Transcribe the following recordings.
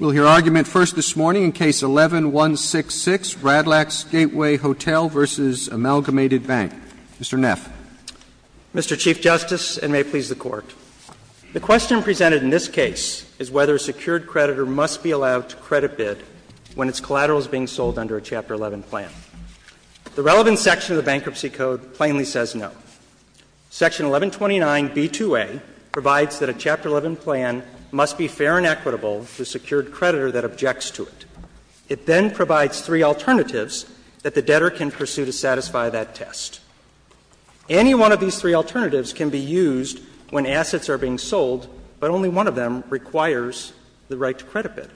We'll hear argument first this morning in Case 11-166, Radlax Gateway Hotel v. Amalgamated Bank. Mr. Neff. Mr. Chief Justice, and may it please the Court, the question presented in this case is whether a secured creditor must be allowed to credit bid when its collateral is being sold under a Chapter 11 plan. The relevant section of the Bankruptcy Code plainly says no. Section 1129b2a provides that a Chapter 11 plan must be fair and equitable to the secured creditor that objects to it. It then provides three alternatives that the debtor can pursue to satisfy that test. Any one of these three alternatives can be used when assets are being sold, but only one of them requires the right to credit bid.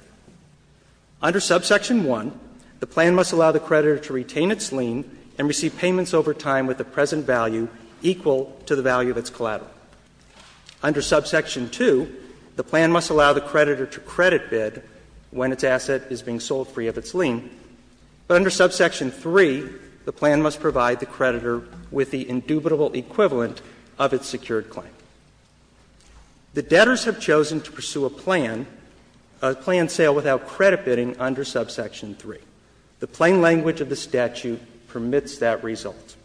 Under subsection 1, the plan must allow the creditor to retain its lien and receive payments over time with the present value equal to the value of its collateral. Under subsection 2, the plan must allow the creditor to credit bid when its asset is being sold free of its lien. But under subsection 3, the plan must provide the creditor with the indubitable equivalent of its secured claim. The debtors have chosen to pursue a plan, a planned sale without credit bidding under subsection 3. The plain language of the statute permits that result.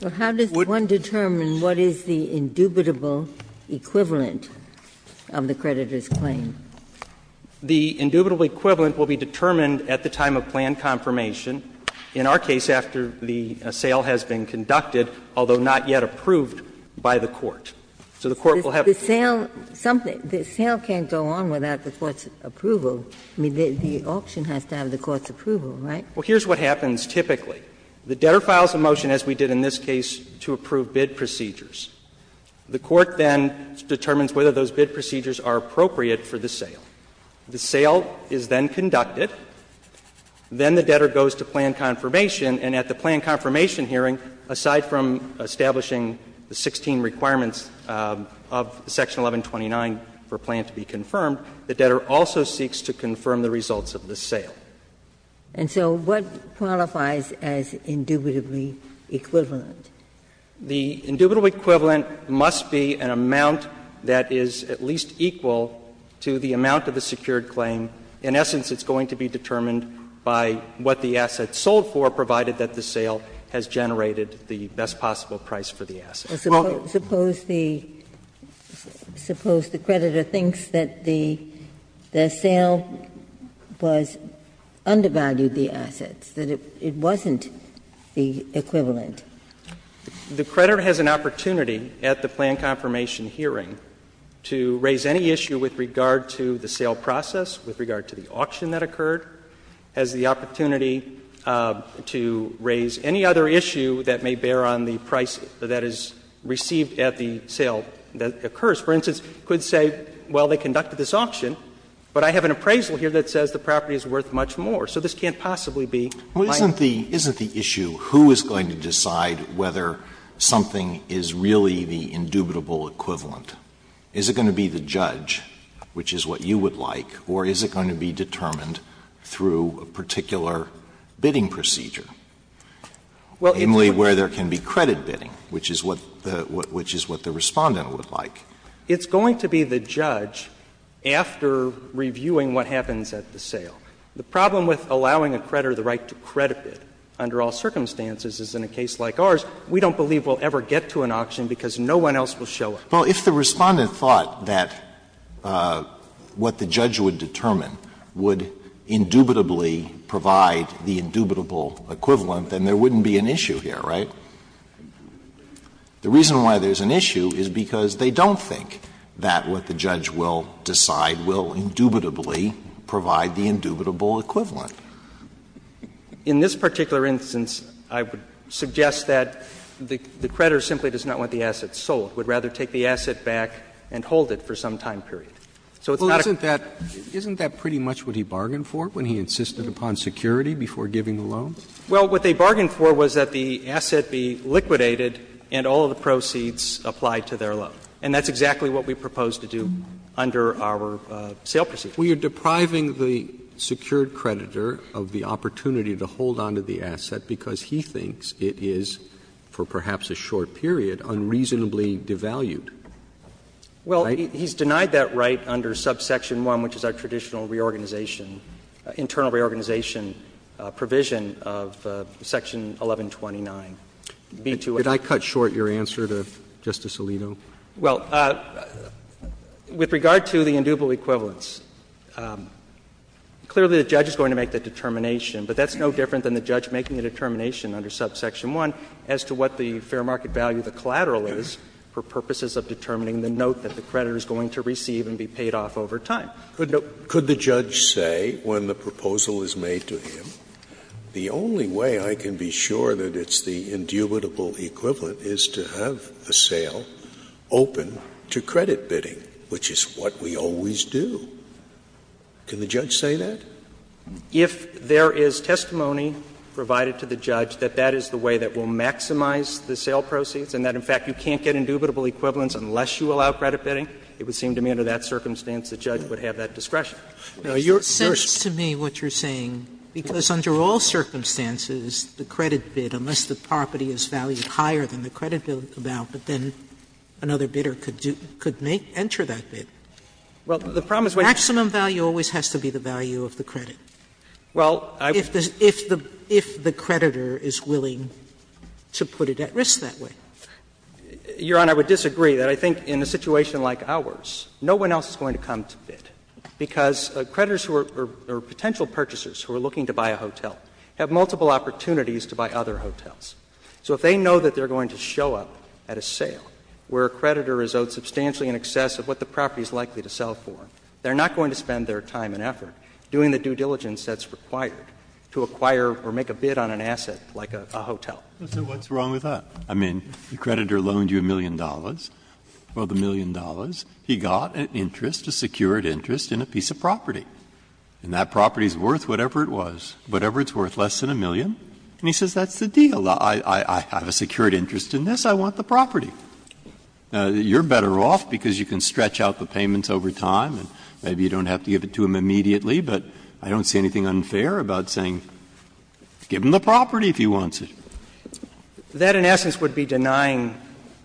Ginsburg Well, how does one determine what is the indubitable equivalent of the creditor's claim? The indubitable equivalent will be determined at the time of planned confirmation, in our case after the sale has been conducted, although not yet approved by the Court. So the Court will have to prove it. The sale can't go on without the Court's approval. I mean, the auction has to have the Court's approval, right? Well, here's what happens typically. The debtor files a motion, as we did in this case, to approve bid procedures. The Court then determines whether those bid procedures are appropriate for the sale. The sale is then conducted. Then the debtor goes to planned confirmation, and at the planned confirmation hearing, aside from establishing the 16 requirements of section 1129 for a plan to be confirmed, the debtor also seeks to confirm the results of the sale. And so what qualifies as indubitably equivalent? The indubitably equivalent must be an amount that is at least equal to the amount of the secured claim. In essence, it's going to be determined by what the asset sold for, provided that the sale has generated the best possible price for the asset. Suppose the creditor thinks that the sale was undervalued, the assets, that it wasn't the equivalent? The creditor has an opportunity at the planned confirmation hearing to raise any issue with regard to the sale process, with regard to the auction that occurred, has the received at the sale that occurs. For instance, could say, well, they conducted this auction, but I have an appraisal here that says the property is worth much more, so this can't possibly be my. Alitoso, isn't the issue who is going to decide whether something is really the indubitable equivalent? Is it going to be the judge, which is what you would like, or is it going to be determined through a particular bidding procedure, namely, where there can be credit bidding, which is what the Respondent would like? It's going to be the judge after reviewing what happens at the sale. The problem with allowing a creditor the right to credit bid under all circumstances is in a case like ours, we don't believe we'll ever get to an auction because no one else will show up. Well, if the Respondent thought that what the judge would determine would indubitably provide the indubitable equivalent, then there wouldn't be an issue here, right? The reason why there's an issue is because they don't think that what the judge will decide will indubitably provide the indubitable equivalent. In this particular instance, I would suggest that the creditor simply does not want the asset sold, would rather take the asset back and hold it for some time period. So it's not a question of whether the creditor would hold it for some time period. Roberts, isn't that pretty much what he bargained for when he insisted upon security before giving the loan? Well, what they bargained for was that the asset be liquidated and all of the proceeds applied to their loan. And that's exactly what we proposed to do under our sale procedure. Well, you're depriving the secured creditor of the opportunity to hold on to the asset because he thinks it is, for perhaps a short period, unreasonably devalued. Well, he's denied that right under subsection 1, which is our traditional reorganization, internal reorganization provision of section 1129, B2A. Could I cut short your answer to Justice Alito? Well, with regard to the indubitable equivalence, clearly the judge is going to make the determination, but that's no different than the judge making the determination under subsection 1 as to what the fair market value of the collateral is for purposes of determining the note that the creditor is going to receive and be paid off over time. Could the judge say when the proposal is made to him, the only way I can be sure that it's the indubitable equivalent is to have the sale open to credit bidding, which is what we always do? Can the judge say that? If there is testimony provided to the judge that that is the way that will maximize the sale proceeds and that, in fact, you can't get indubitable equivalence unless you allow credit bidding, it would seem to me under that circumstance the judge would have that discretion. Now, you're saying to me what you're saying, because under all circumstances, the credit bid, unless the property is valued higher than the credit bid amount, but then another bidder could enter that bid. Maximum value always has to be the value of the credit. If the creditor is willing to put it at risk that way. Your Honor, I would disagree. I think in a situation like ours, no one else is going to come to bid. Because creditors who are potential purchasers who are looking to buy a hotel have multiple opportunities to buy other hotels. So if they know that they are going to show up at a sale where a creditor is owed substantially in excess of what the property is likely to sell for, they are not going to spend their time and effort doing the due diligence that's required to acquire or make a bid on an asset like a hotel. Breyer, so what's wrong with that? I mean, the creditor loaned you a million dollars, well, the million dollars. He got an interest, a secured interest, in a piece of property. And that property is worth whatever it was, whatever it's worth, less than a million. And he says that's the deal, I have a secured interest in this, I want the property. Now, you're better off because you can stretch out the payments over time and maybe you don't have to give it to him immediately, but I don't see anything unfair about saying, give him the property if he wants it. That, in essence, would be denying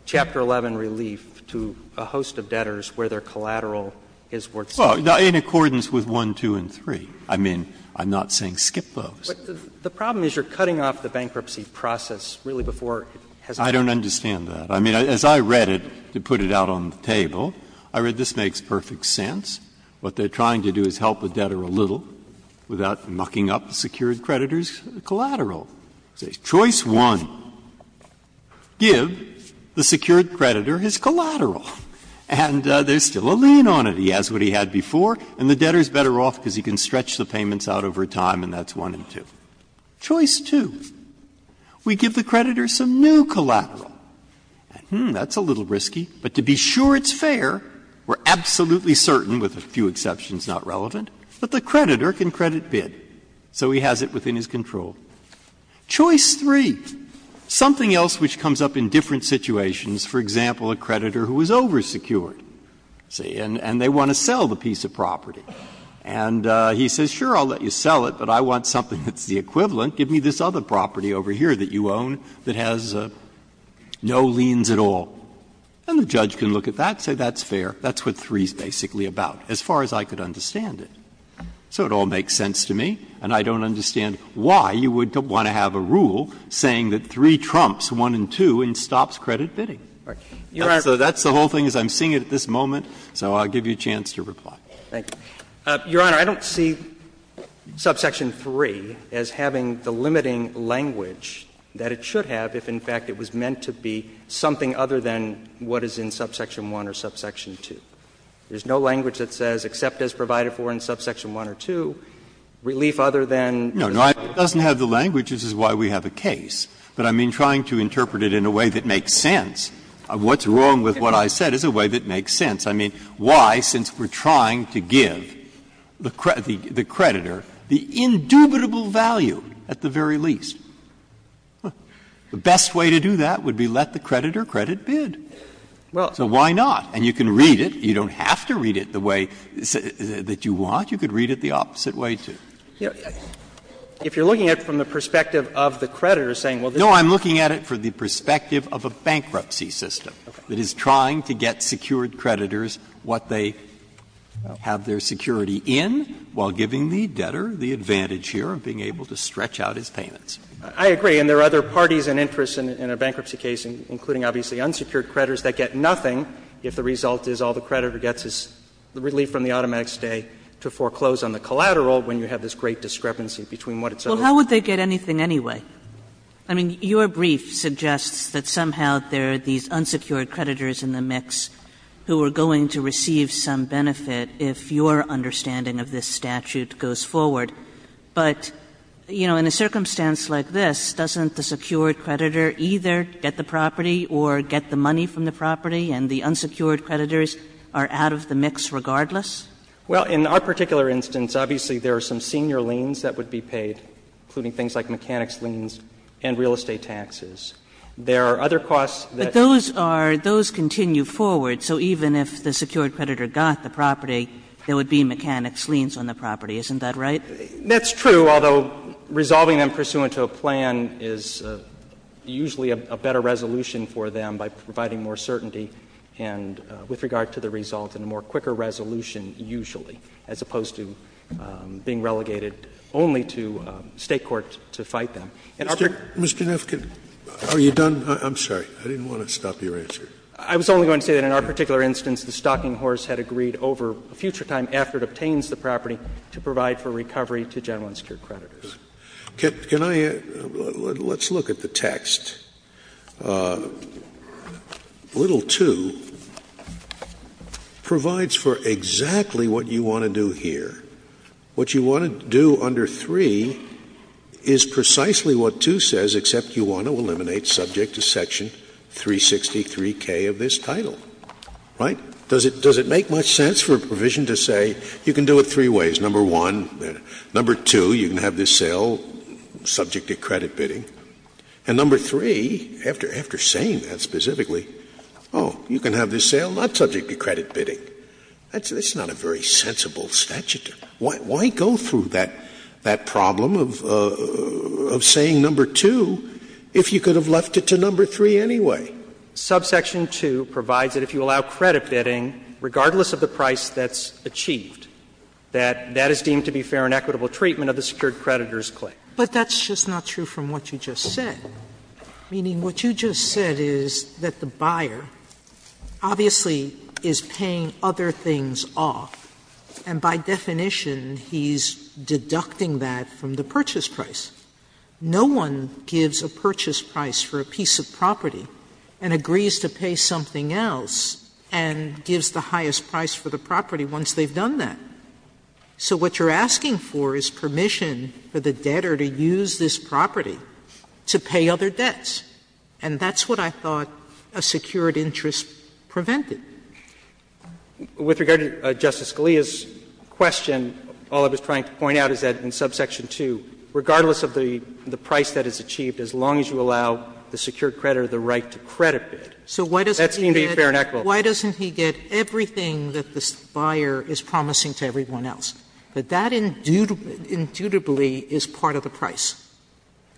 Chapter 11 relief to a host of debtors where their collateral is worth something. Well, in accordance with 1, 2, and 3. I mean, I'm not saying skip those. But the problem is you're cutting off the bankruptcy process really before it has happened. I don't understand that. I mean, as I read it, to put it out on the table, I read this makes perfect sense. What they're trying to do is help the debtor a little without mucking up the secured creditor's collateral. Choice one, give the secured creditor his collateral. And there's still a lien on it. He has what he had before, and the debtor is better off because he can stretch the payments out over time, and that's 1 and 2. Choice two, we give the creditor some new collateral. That's a little risky, but to be sure it's fair, we're absolutely certain with respect to a few exceptions, not relevant, but the creditor can credit bid, so he has it within his control. Choice three, something else which comes up in different situations, for example, a creditor who is oversecured, see, and they want to sell the piece of property. And he says, sure, I'll let you sell it, but I want something that's the equivalent. Give me this other property over here that you own that has no liens at all. And the judge can look at that and say that's fair. That's what 3 is basically about, as far as I could understand it. So it all makes sense to me, and I don't understand why you would want to have a rule saying that 3 trumps 1 and 2 and stops credit bidding. So that's the whole thing, as I'm seeing it at this moment, so I'll give you a chance to reply. Thank you. Your Honor, I don't see subsection 3 as having the limiting language that it should have if, in fact, it was meant to be something other than what is in subsection 1 or subsection 2. There's no language that says, except as provided for in subsection 1 or 2, relief other than. Breyer, it doesn't have the language, which is why we have a case, but I mean trying to interpret it in a way that makes sense. What's wrong with what I said is a way that makes sense. I mean, why, since we're trying to give the creditor the indubitable value at the very least, the best way to do that would be let the creditor credit bid. So why not? And you can read it. You don't have to read it the way that you want. You could read it the opposite way, too. If you're looking at it from the perspective of the creditor saying, well, this is No, I'm looking at it from the perspective of a bankruptcy system that is trying to get secured creditors what they have their security in while giving the debtor the advantage here of being able to stretch out his payments. I agree. And there are other parties and interests in a bankruptcy case, including obviously unsecured creditors, that get nothing if the result is all the creditor gets is the relief from the automatic stay to foreclose on the collateral when you have this great discrepancy between what is supposed to happen. Kagan, Well, how would they get anything anyway? I mean, your brief suggests that somehow there are these unsecured creditors in the mix who are going to receive some benefit if your understanding of this statute goes forward. But, you know, in a circumstance like this, doesn't the secured creditor either get the property or get the money from the property and the unsecured creditors are out of the mix regardless? Well, in our particular instance, obviously there are some senior liens that would be paid, including things like mechanics liens and real estate taxes. There are other costs that But those are, those continue forward, so even if the secured creditor got the property, there would be mechanics liens on the property, isn't that right? That's true, although resolving them pursuant to a plan is usually a better resolution for them by providing more certainty and with regard to the result and a more quicker resolution usually, as opposed to being relegated only to State court to fight them. And our particular Mr. Neff, are you done? I'm sorry. I didn't want to stop your answer. I was only going to say that in our particular instance, the stocking horse had agreed over a future time after it obtains the property to provide for recovery to general unsecured creditors. Can I add, let's look at the text. Little 2 provides for exactly what you want to do here. What you want to do under 3 is precisely what 2 says, except you want to eliminate subject to section 363K of this title, right? Does it make much sense for a provision to say you can do it three ways? Number 1, number 2, you can have this sale subject to credit bidding. And number 3, after saying that specifically, oh, you can have this sale not subject to credit bidding. That's not a very sensible statute. Why go through that problem of saying number 2 if you could have left it to number 3 anyway? Subsection 2 provides that if you allow credit bidding, regardless of the price that's achieved, that that is deemed to be fair and equitable treatment of the secured creditor's claim. Sotomayor, but that's just not true from what you just said, meaning what you just said is that the buyer obviously is paying other things off, and by definition he's deducting that from the purchase price. No one gives a purchase price for a piece of property and agrees to pay something else and gives the highest price for the property once they've done that. So what you're asking for is permission for the debtor to use this property to pay other debts. And that's what I thought a secured interest prevented. With regard to Justice Scalia's question, all I was trying to point out is that in terms of the price that is achieved, as long as you allow the secured creditor the right to credit bid, that's deemed to be fair and equitable. Sotomayor, why doesn't he get everything that this buyer is promising to everyone else? But that, indubitably, is part of the price,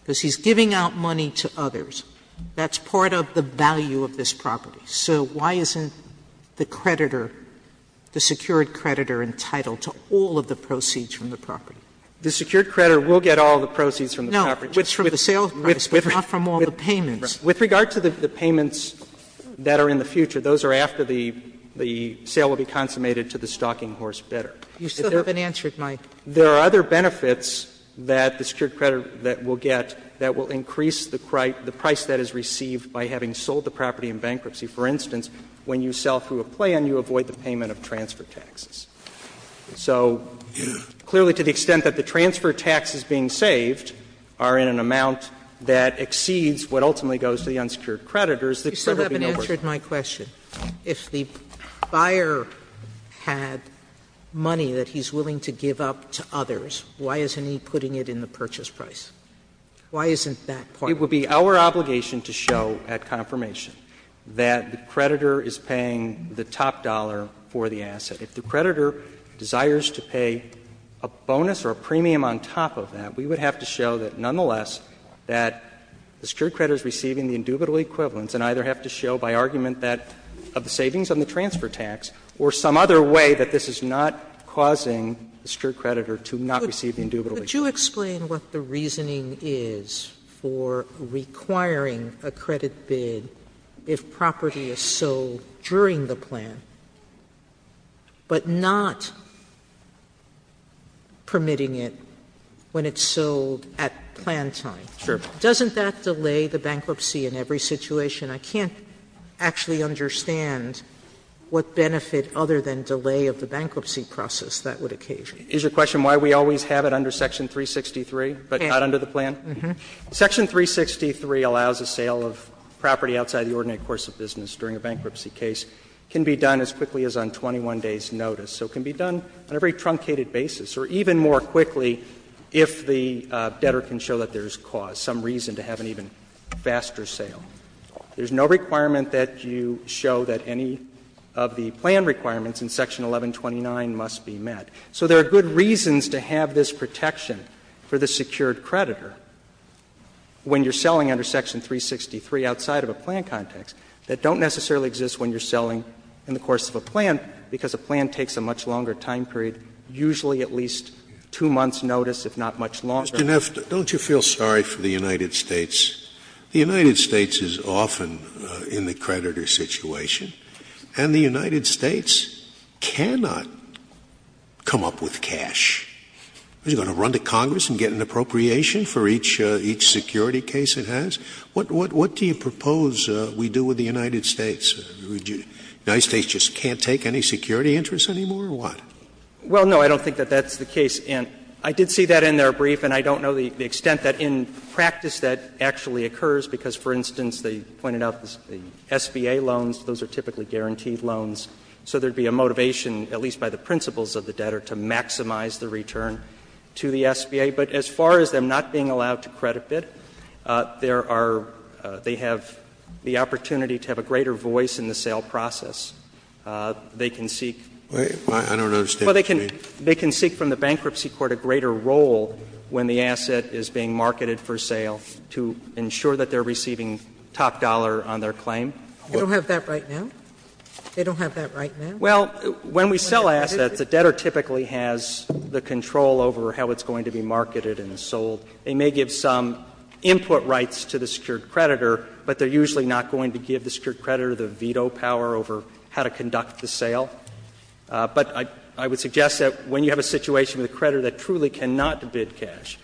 because he's giving out money to others. That's part of the value of this property. So why isn't the creditor, the secured creditor, entitled to all of the proceeds from the property? The secured creditor will get all of the proceeds from the property. No, it's from the sales price, but not from all the payments. With regard to the payments that are in the future, those are after the sale will be consummated to the stalking horse bidder. You still haven't answered my question. There are other benefits that the secured creditor will get that will increase the price that is received by having sold the property in bankruptcy. For instance, when you sell through a plan, you avoid the payment of transfer taxes. So clearly, to the extent that the transfer taxes being saved are in an amount that exceeds what ultimately goes to the unsecured creditor, is the creditor being overpaid. Sotomayor, if the buyer had money that he's willing to give up to others, why isn't he putting it in the purchase price? Why isn't that part of it? It would be our obligation to show at confirmation that the creditor is paying the top dollar for the asset. If the creditor desires to pay a bonus or a premium on top of that, we would have to show that nonetheless that the secured creditor is receiving the indubitable equivalence and either have to show by argument that of the savings on the transfer tax or some other way that this is not causing the secured creditor to not receive the indubitable equivalence. Sotomayor, could you explain what the reasoning is for requiring a credit bid if property is sold during the plan, but not permitting it when it's sold at plan time? Sure. Doesn't that delay the bankruptcy in every situation? I can't actually understand what benefit other than delay of the bankruptcy process that would occasion. Is your question why we always have it under Section 363, but not under the plan? Mm-hmm. Section 363 allows a sale of property outside the ordinate course of business during a bankruptcy case. It can be done as quickly as on 21 days' notice. So it can be done on a very truncated basis, or even more quickly if the debtor can show that there is cause, some reason to have an even faster sale. There is no requirement that you show that any of the plan requirements in Section 1129 must be met. So there are good reasons to have this protection for the secured creditor. When you are selling under Section 363 outside of a plan context, that don't necessarily exist when you are selling in the course of a plan, because a plan takes a much longer time period, usually at least 2 months' notice, if not much longer. Mr. Neff, don't you feel sorry for the United States? The United States is often in the creditor situation, and the United States cannot come up with cash. Is it going to run to Congress and get an appropriation for each security case it has? What do you propose we do with the United States? The United States just can't take any security interest anymore, or what? Neff Well, no, I don't think that that's the case. And I did see that in their brief, and I don't know the extent that in practice that actually occurs, because, for instance, they pointed out the SBA loans, those are typically guaranteed loans. So there would be a motivation, at least by the principles of the debtor, to maximize the return to the SBA. But as far as them not being allowed to credit bid, there are — they have the opportunity to have a greater voice in the sale process. They can seek — Scalia I don't understand what you mean. Neff Well, they can seek from the bankruptcy court a greater role when the asset is being marketed for sale to ensure that they are receiving top dollar on their claim. Sotomayor I don't have that right now. I don't have that right now. Neff Well, when we sell assets, the debtor typically has the control over how it's going to be marketed and sold. They may give some input rights to the secured creditor, but they're usually not going to give the secured creditor the veto power over how to conduct the sale. But I would suggest that when you have a situation with a creditor that truly cannot bid cash,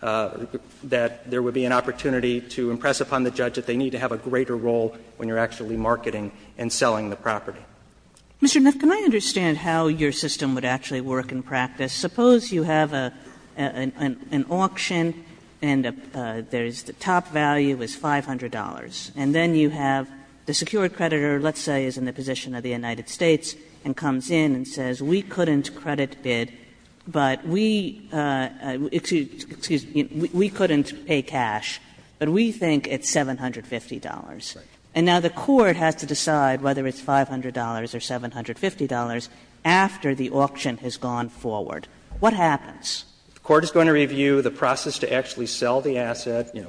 that there would be an opportunity to impress upon the judge that they need to have a greater role when you're actually marketing and selling the property. Kagan Mr. Neff, can I understand how your system would actually work in practice? Suppose you have an auction and the top value is $500, and then you have the secured creditor, let's say, is in the position of the United States and comes in and says, we couldn't credit bid, but we — excuse me — we couldn't pay cash, but we think it's $750. Neff Right. Kagan And now the court has to decide whether it's $500 or $750 after the auction has gone forward. What happens? Neff The court is going to review the process to actually sell the asset, you know,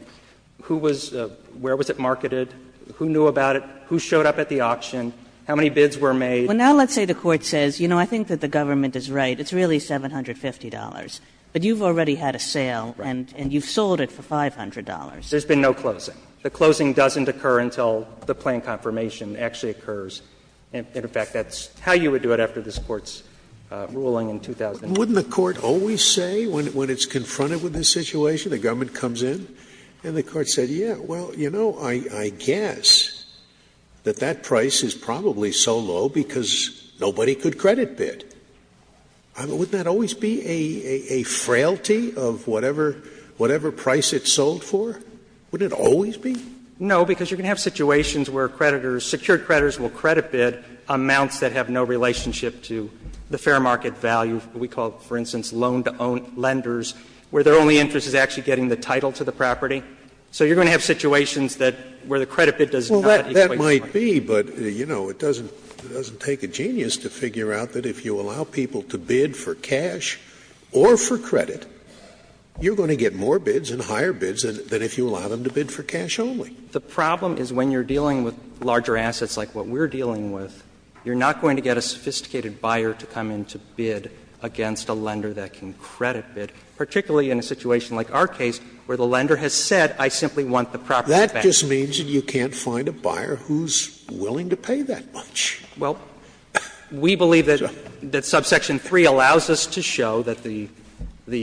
who was — where was it marketed, who knew about it, who showed up at the auction, how many bids were made. Kagan Well, now let's say the court says, you know, I think that the government is right, it's really $750, but you've already had a sale and you've sold it for $500. Neff There's been no closing. The closing doesn't occur until the plan confirmation actually occurs. And, in fact, that's how you would do it after this Court's ruling in 2000. Scalia Wouldn't the court always say when it's confronted with this situation, the government comes in and the court said, yeah, well, you know, I guess that that price is probably so low because nobody could credit bid? Wouldn't that always be a frailty of whatever — whatever price it sold for? Wouldn't it always be? Neff No, because you're going to have situations where creditors, secured creditors will credit bid amounts that have no relationship to the fair market value. We call, for instance, loan-to-own lenders, where their only interest is actually getting the title to the property. So you're going to have situations that — where the credit bid does not equate to money. Scalia Well, that might be, but, you know, it doesn't take a genius to figure out that if you allow people to bid for cash or for credit, you're going to get more credit bids than if you allow them to bid for cash only. Neff The problem is when you're dealing with larger assets like what we're dealing with, you're not going to get a sophisticated buyer to come in to bid against a lender that can credit bid, particularly in a situation like our case where the lender has said, I simply want the property back. Scalia That just means that you can't find a buyer who's willing to pay that much. Neff Well, we believe that subsection 3 allows us to show that the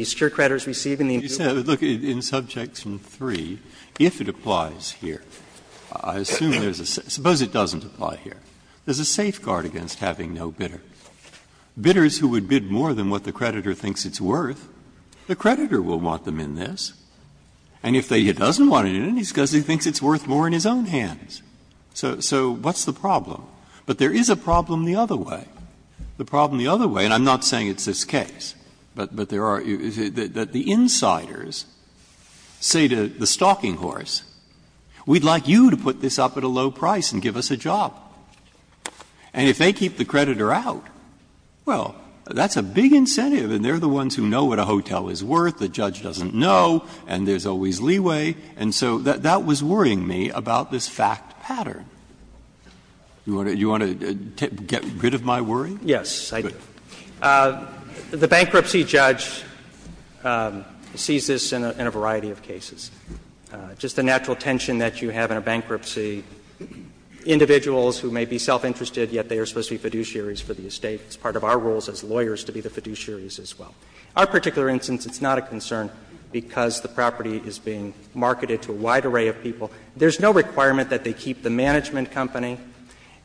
secured creditors receiving the employer's credit are the ones who are receiving the employer's Breyer Look, in subsection 3, if it applies here, I assume there's a — suppose it doesn't apply here. There's a safeguard against having no bidder. Bidders who would bid more than what the creditor thinks it's worth, the creditor will want them in this. And if he doesn't want them in it, he thinks it's worth more in his own hands. So what's the problem? But there is a problem the other way. The problem the other way, and I'm not saying it's this case, but there are — that the insiders say to the stalking horse, we'd like you to put this up at a low price and give us a job. And if they keep the creditor out, well, that's a big incentive and they're the ones who know what a hotel is worth, the judge doesn't know, and there's always leeway. And so that was worrying me about this fact pattern. Do you want to get rid of my worry? Yes, I do. The bankruptcy judge sees this in a variety of cases. Just the natural tension that you have in a bankruptcy, individuals who may be self-interested, yet they are supposed to be fiduciaries for the estate. It's part of our roles as lawyers to be the fiduciaries as well. Our particular instance, it's not a concern because the property is being marketed to a wide array of people. There's no requirement that they keep the management company,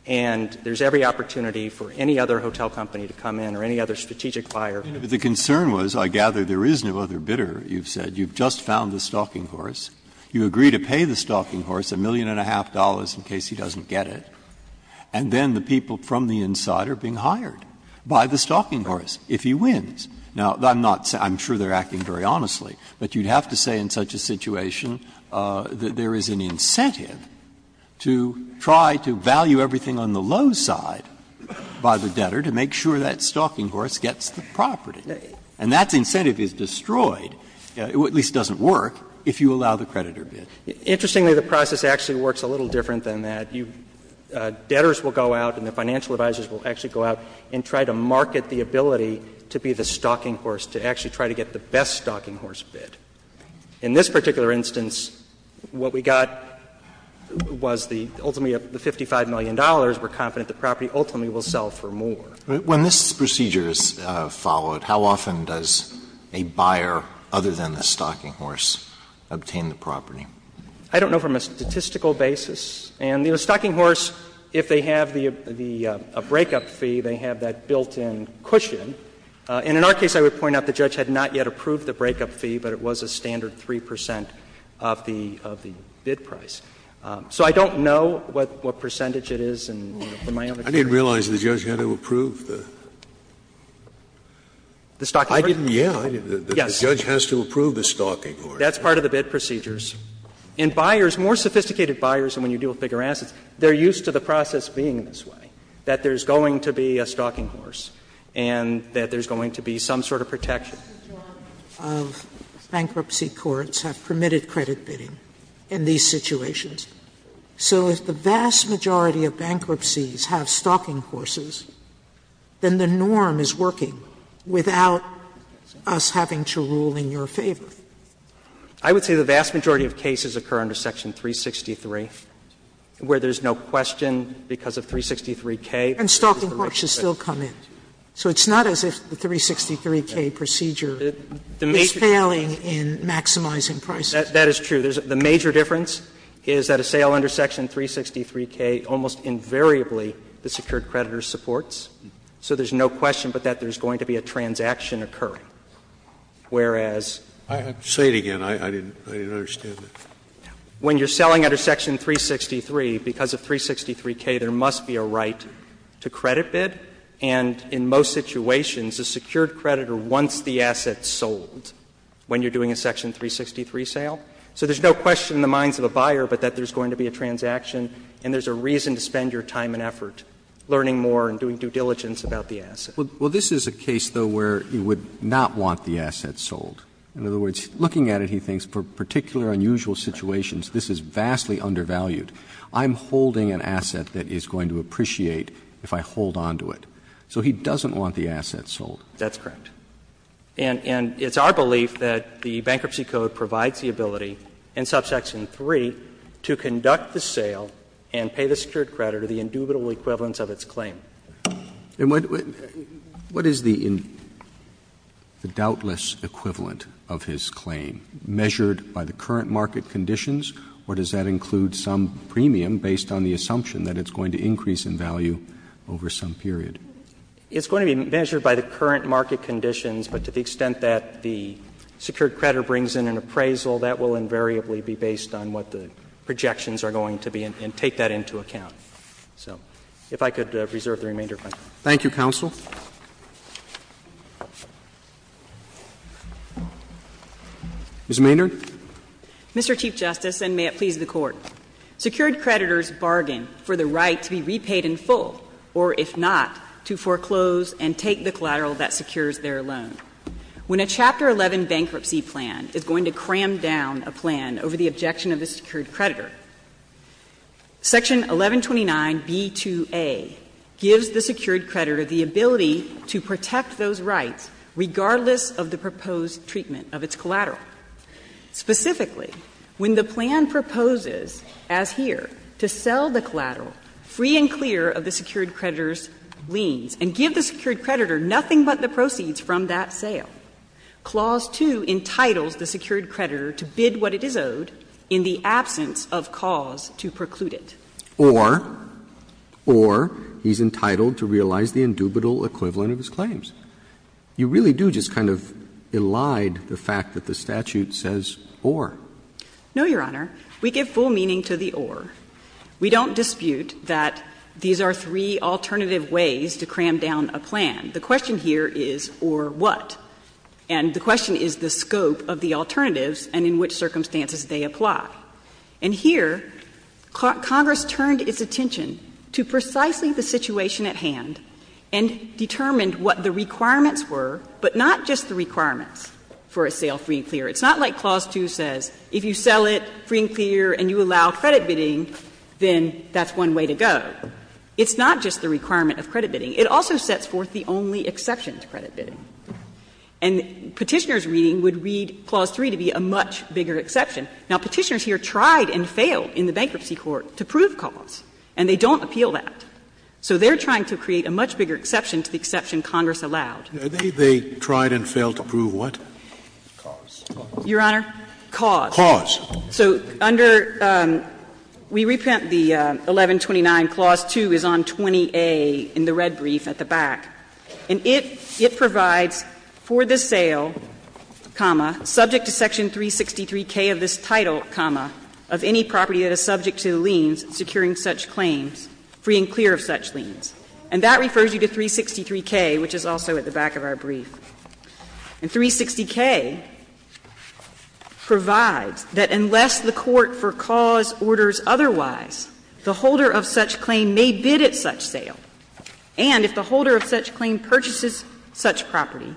and there's every opportunity for any other hotel company to come in or any other strategic buyer. Breyer, but the concern was, I gather, there is no other bidder, you've said. You've just found the stalking horse. You agree to pay the stalking horse $1.5 million in case he doesn't get it. And then the people from the inside are being hired by the stalking horse, if he wins. Now, I'm not — I'm sure they're acting very honestly, but you'd have to say in such a situation that there is an incentive to try to value everything on the low side by the debtor to make sure that stalking horse gets the property. And that incentive is destroyed, or at least doesn't work, if you allow the creditor bid. Interestingly, the process actually works a little different than that. You — debtors will go out and the financial advisors will actually go out and try to market the ability to be the stalking horse, to actually try to get the best stalking horse bid. In this particular instance, what we got was the — ultimately, the $55 million. We're confident the property ultimately will sell for more. Alito, when this procedure is followed, how often does a buyer, other than the stalking horse, obtain the property? I don't know from a statistical basis. And the stalking horse, if they have the — a breakup fee, they have that built-in cushion. And in our case, I would point out the judge had not yet approved the breakup fee, but it was a standard 3 percent of the — of the bid price. So I don't know what percentage it is. And from my own experience — Scalia, I didn't realize the judge had to approve the — I didn't, yeah. The judge has to approve the stalking horse. That's part of the bid procedures. In buyers, more sophisticated buyers than when you deal with figure assets, they're used to the process being this way, that there's going to be a stalking horse. And that there's going to be some sort of protection. Sotomayor of bankruptcy courts have permitted credit bidding in these situations. So if the vast majority of bankruptcies have stalking horses, then the norm is working without us having to rule in your favor. I would say the vast majority of cases occur under Section 363, where there's no question because of 363K. And stalking horses still come in. So it's not as if the 363K procedure is failing in maximizing prices. That is true. The major difference is that a sale under Section 363K almost invariably the secured creditor supports. So there's no question but that there's going to be a transaction occurring. Whereas — I'll say it again. I didn't understand it. When you're selling under Section 363, because of 363K, there must be a right to credit bid, and in most situations, the secured creditor wants the asset sold when you're doing a Section 363 sale. So there's no question in the minds of a buyer but that there's going to be a transaction and there's a reason to spend your time and effort learning more and doing due diligence about the asset. Roberts. Well, this is a case, though, where you would not want the asset sold. In other words, looking at it, he thinks for particular unusual situations, this is vastly undervalued. I'm holding an asset that he's going to appreciate if I hold on to it. So he doesn't want the asset sold. That's correct. And it's our belief that the Bankruptcy Code provides the ability in subsection 3 to conduct the sale and pay the secured creditor the indubitable equivalence of its claim. And what is the doubtless equivalent of his claim, measured by the current market conditions, or does that include some premium based on the assumption that it's going to increase in value over some period? It's going to be measured by the current market conditions, but to the extent that the secured creditor brings in an appraisal, that will invariably be based on what the projections are going to be and take that into account. So if I could reserve the remainder of my time. Thank you, counsel. Ms. Maynard. Mr. Chief Justice, and may it please the Court. Secured creditors bargain for the right to be repaid in full, or if not, to foreclose and take the collateral that secures their loan. When a Chapter 11 bankruptcy plan is going to cram down a plan over the objection of the secured creditor, Section 1129b2a gives the secured creditor the ability to protect those rights regardless of the proposed treatment of its collateral. Specifically, when the plan proposes, as here, to sell the collateral free and clear of the secured creditor's liens and give the secured creditor nothing but the proceeds from that sale, Clause 2 entitles the secured creditor to bid what it is owed in the absence of cause to preclude it. Or, or he's entitled to realize the indubitable equivalent of his claims. You really do just kind of elide the fact that the statute says, or. No, Your Honor. We give full meaning to the or. We don't dispute that these are three alternative ways to cram down a plan. The question here is or what? And the question is the scope of the alternatives and in which circumstances they apply. And here, Congress turned its attention to precisely the situation at hand and determined what the requirements were, but not just the requirements for a sale free and clear. It's not like Clause 2 says, if you sell it free and clear and you allow credit bidding, then that's one way to go. It's not just the requirement of credit bidding. It also sets forth the only exception to credit bidding. And Petitioner's reading would read Clause 3 to be a much bigger exception. Now, Petitioners here tried and failed in the bankruptcy court to prove cause, and they don't appeal that. So they're trying to create a much bigger exception to the exception Congress allowed. Scalia Are they tried and failed to prove what? Clause. Your Honor, cause. Cause. So under we reprint the 1129, Clause 2 is on 20A in the red brief at the back. And it provides for the sale, comma, subject to section 363K of this title, comma, of any property that is subject to the liens in securing such claims, free and clear of such liens. And that refers you to 363K, which is also at the back of our brief. And 360K provides that unless the court for cause orders otherwise, the holder of such claim may bid at such sale. And if the holder of such claim purchases such property,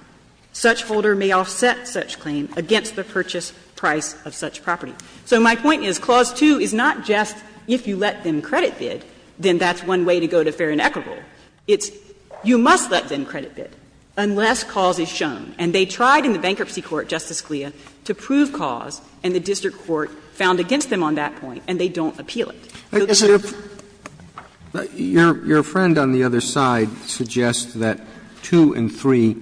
such holder may offset such claim against the purchase price of such property. So my point is Clause 2 is not just if you let them credit bid, then that's one way to go to fair and equitable. It's you must let them credit bid unless cause is shown. And they tried in the bankruptcy court, Justice Scalia, to prove cause, and the district court found against them on that point, and they don't appeal it. So there's a difference. Roberts Your friend on the other side suggests that 2 and 3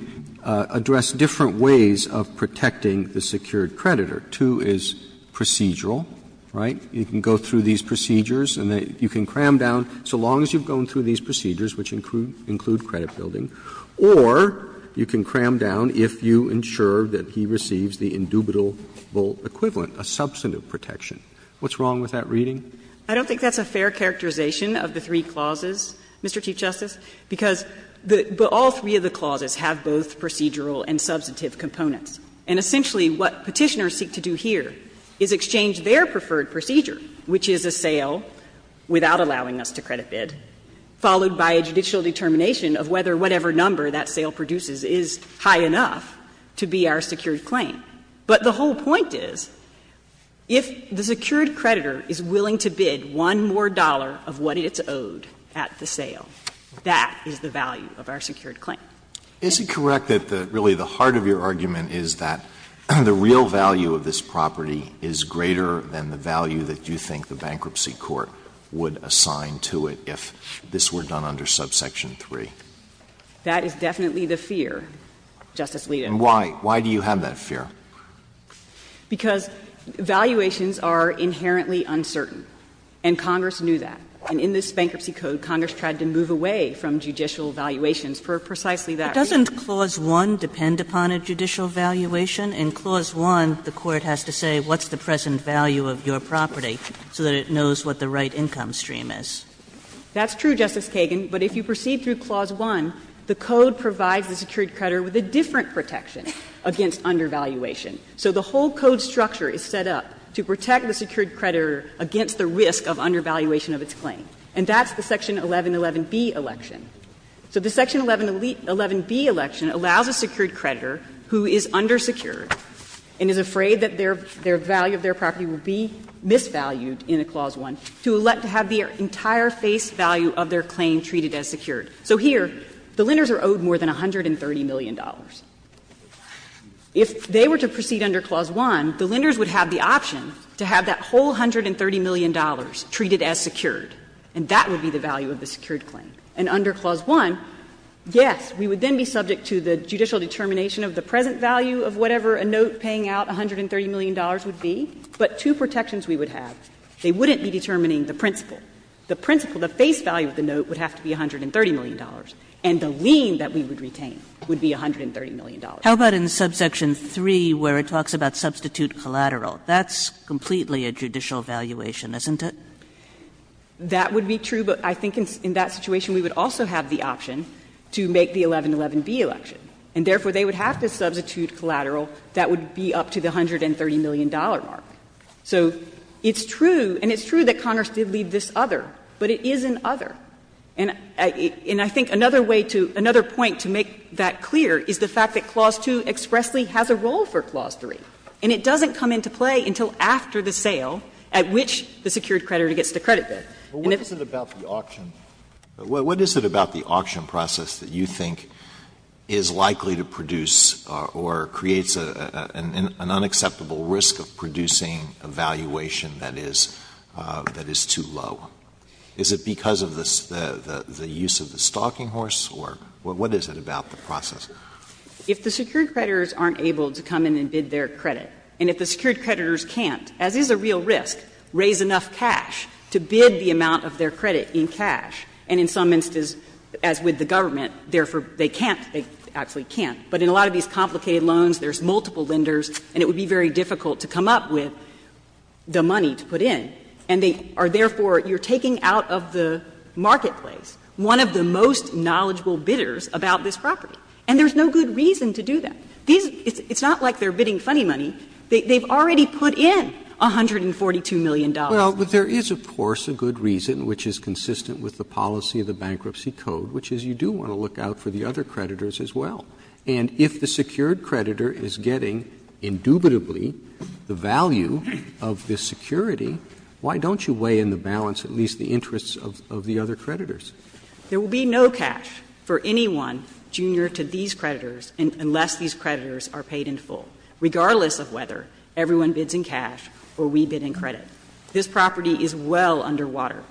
address different ways of protecting the secured creditor. 2 is procedural, right? You can go through these procedures and then you can cram down, so long as you've gone through these procedures, which include credit building, or you can cram down if you ensure that he receives the indubitable equivalent, a substantive protection. What's wrong with that reading? I don't think that's a fair characterization of the three clauses, Mr. Chief Justice, because all three of the clauses have both procedural and substantive components. And essentially what Petitioners seek to do here is exchange their preferred procedure, which is a sale without allowing us to credit bid, followed by a judicial determination of whether whatever number that sale produces is high enough to be our secured claim. But the whole point is, if the secured creditor is willing to bid one more dollar of what it's owed at the sale, that is the value of our secured claim. Is it correct that really the heart of your argument is that the real value of this property is greater than the value that you think the bankruptcy court would assign to it if this were done under subsection 3? That is definitely the fear, Justice Alito. And why? Why do you have that fear? Because valuations are inherently uncertain, and Congress knew that. And in this Bankruptcy Code, Congress tried to move away from judicial valuations for precisely that reason. Kagan, but doesn't Clause 1 depend upon a judicial valuation? In Clause 1, the court has to say, what's the present value of your property, so that it knows what the right income stream is. That's true, Justice Kagan, but if you proceed through Clause 1, the Code provides the secured creditor with a different protection against undervaluation. So the whole Code structure is set up to protect the secured creditor against the risk of undervaluation of its claim, and that's the Section 1111B election. So the Section 1111B election allows a secured creditor who is undersecured and is afraid that their value of their property will be misvalued in a Clause 1 to elect to have the entire face value of their claim treated as secured. So here, the lenders are owed more than $130 million. If they were to proceed under Clause 1, the lenders would have the option to have that whole $130 million treated as secured, and that would be the value of the secured claim. And under Clause 1, yes, we would then be subject to the judicial determination of the present value of whatever a note paying out $130 million would be, but two protections we would have. They wouldn't be determining the principal. The principal, the face value of the note, would have to be $130 million, and the lien that we would retain would be $130 million. Kagan. Kagan. How about in subsection 3, where it talks about substitute collateral? That's completely a judicial valuation, isn't it? That would be true, but I think in that situation, we would also have the option to make the 1111B election, and therefore, they would have to substitute collateral that would be up to the $130 million mark. So it's true, and it's true that Congress did leave this other, but it is an other. And I think another way to — another point to make that clear is the fact that Clause 2 expressly has a role for Clause 3, and it doesn't come into play until after the secured creditor gets the credit bid. And if the stock is too high, the secured creditor gets the credit bid. Alito, what is it about the auction process that you think is likely to produce or creates an unacceptable risk of producing a valuation that is too low? Is it because of the use of the stalking horse, or what is it about the process? If the secured creditors aren't able to come in and bid their credit, and if the secured creditors don't have cash to bid the amount of their credit in cash, and in some instances, as with the government, therefore, they can't, they actually can't, but in a lot of these complicated loans, there's multiple lenders, and it would be very difficult to come up with the money to put in, and they are therefore you're taking out of the marketplace one of the most knowledgeable bidders about this property, and there's no good reason to do that. These, it's not like they're bidding funny money. They've already put in $142 million. Roberts, but there is, of course, a good reason, which is consistent with the policy of the Bankruptcy Code, which is you do want to look out for the other creditors as well. And if the secured creditor is getting indubitably the value of this security, why don't you weigh in the balance, at least the interests of the other creditors? There will be no cash for anyone junior to these creditors unless these creditors are paid in full, regardless of whether everyone bids in cash or we bid in credit. This property is well underwater.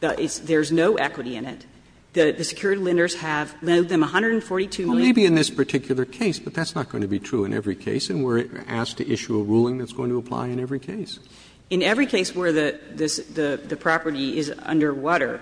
There's no equity in it. The secured lenders have lent them $142 million. Maybe in this particular case, but that's not going to be true in every case, and we're asked to issue a ruling that's going to apply in every case. In every case where the property is underwater,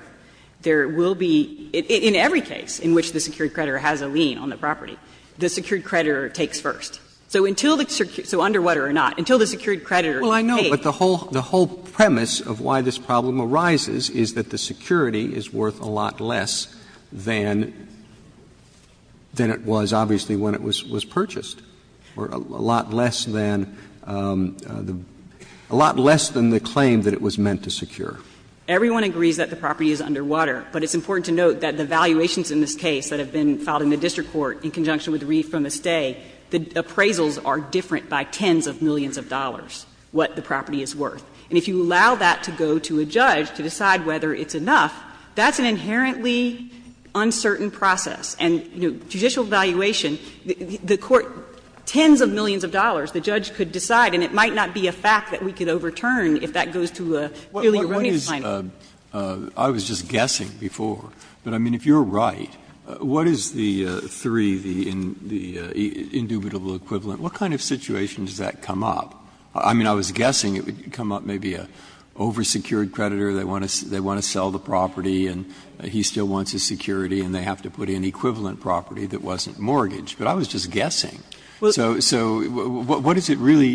there will be, in every case in which the secured creditor has a lien on the property, the secured creditor takes first. So until the, so underwater or not, until the secured creditor is paid. Well, I know, but the whole premise of why this problem arises is that the security is worth a lot less than it was, obviously, when it was purchased, or a lot less than the, a lot less than the claim that it was meant to secure. Everyone agrees that the property is underwater, but it's important to note that the valuations in this case that have been filed in the district court in conjunction with the re-from-the-stay, the appraisals are different by tens of millions of dollars what the property is worth. And if you allow that to go to a judge to decide whether it's enough, that's an inherently uncertain process. And, you know, judicial valuation, the court, tens of millions of dollars, the judge could decide, and it might not be a fact that we could overturn if that goes to a purely erroneous claim. Breyer. I was just guessing before, but I mean, if you're right, what is the three, the indubitable equivalent, what kind of situation does that come up? I mean, I was guessing it would come up maybe an over-secured creditor, they want to sell the property and he still wants his security and they have to put in an equivalent property that wasn't mortgaged, but I was just guessing. So what is it really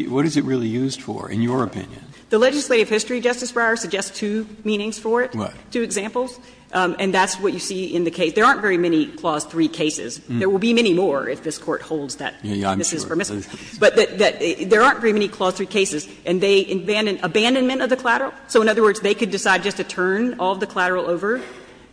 used for, in your opinion? The legislative history, Justice Breyer, suggests two meanings for it, two examples. And that's what you see in the case. There aren't very many clause 3 cases. There will be many more if this Court holds that this is permissible. But there aren't very many clause 3 cases. And they abandonment of the collateral. So in other words, they could decide just to turn all of the collateral over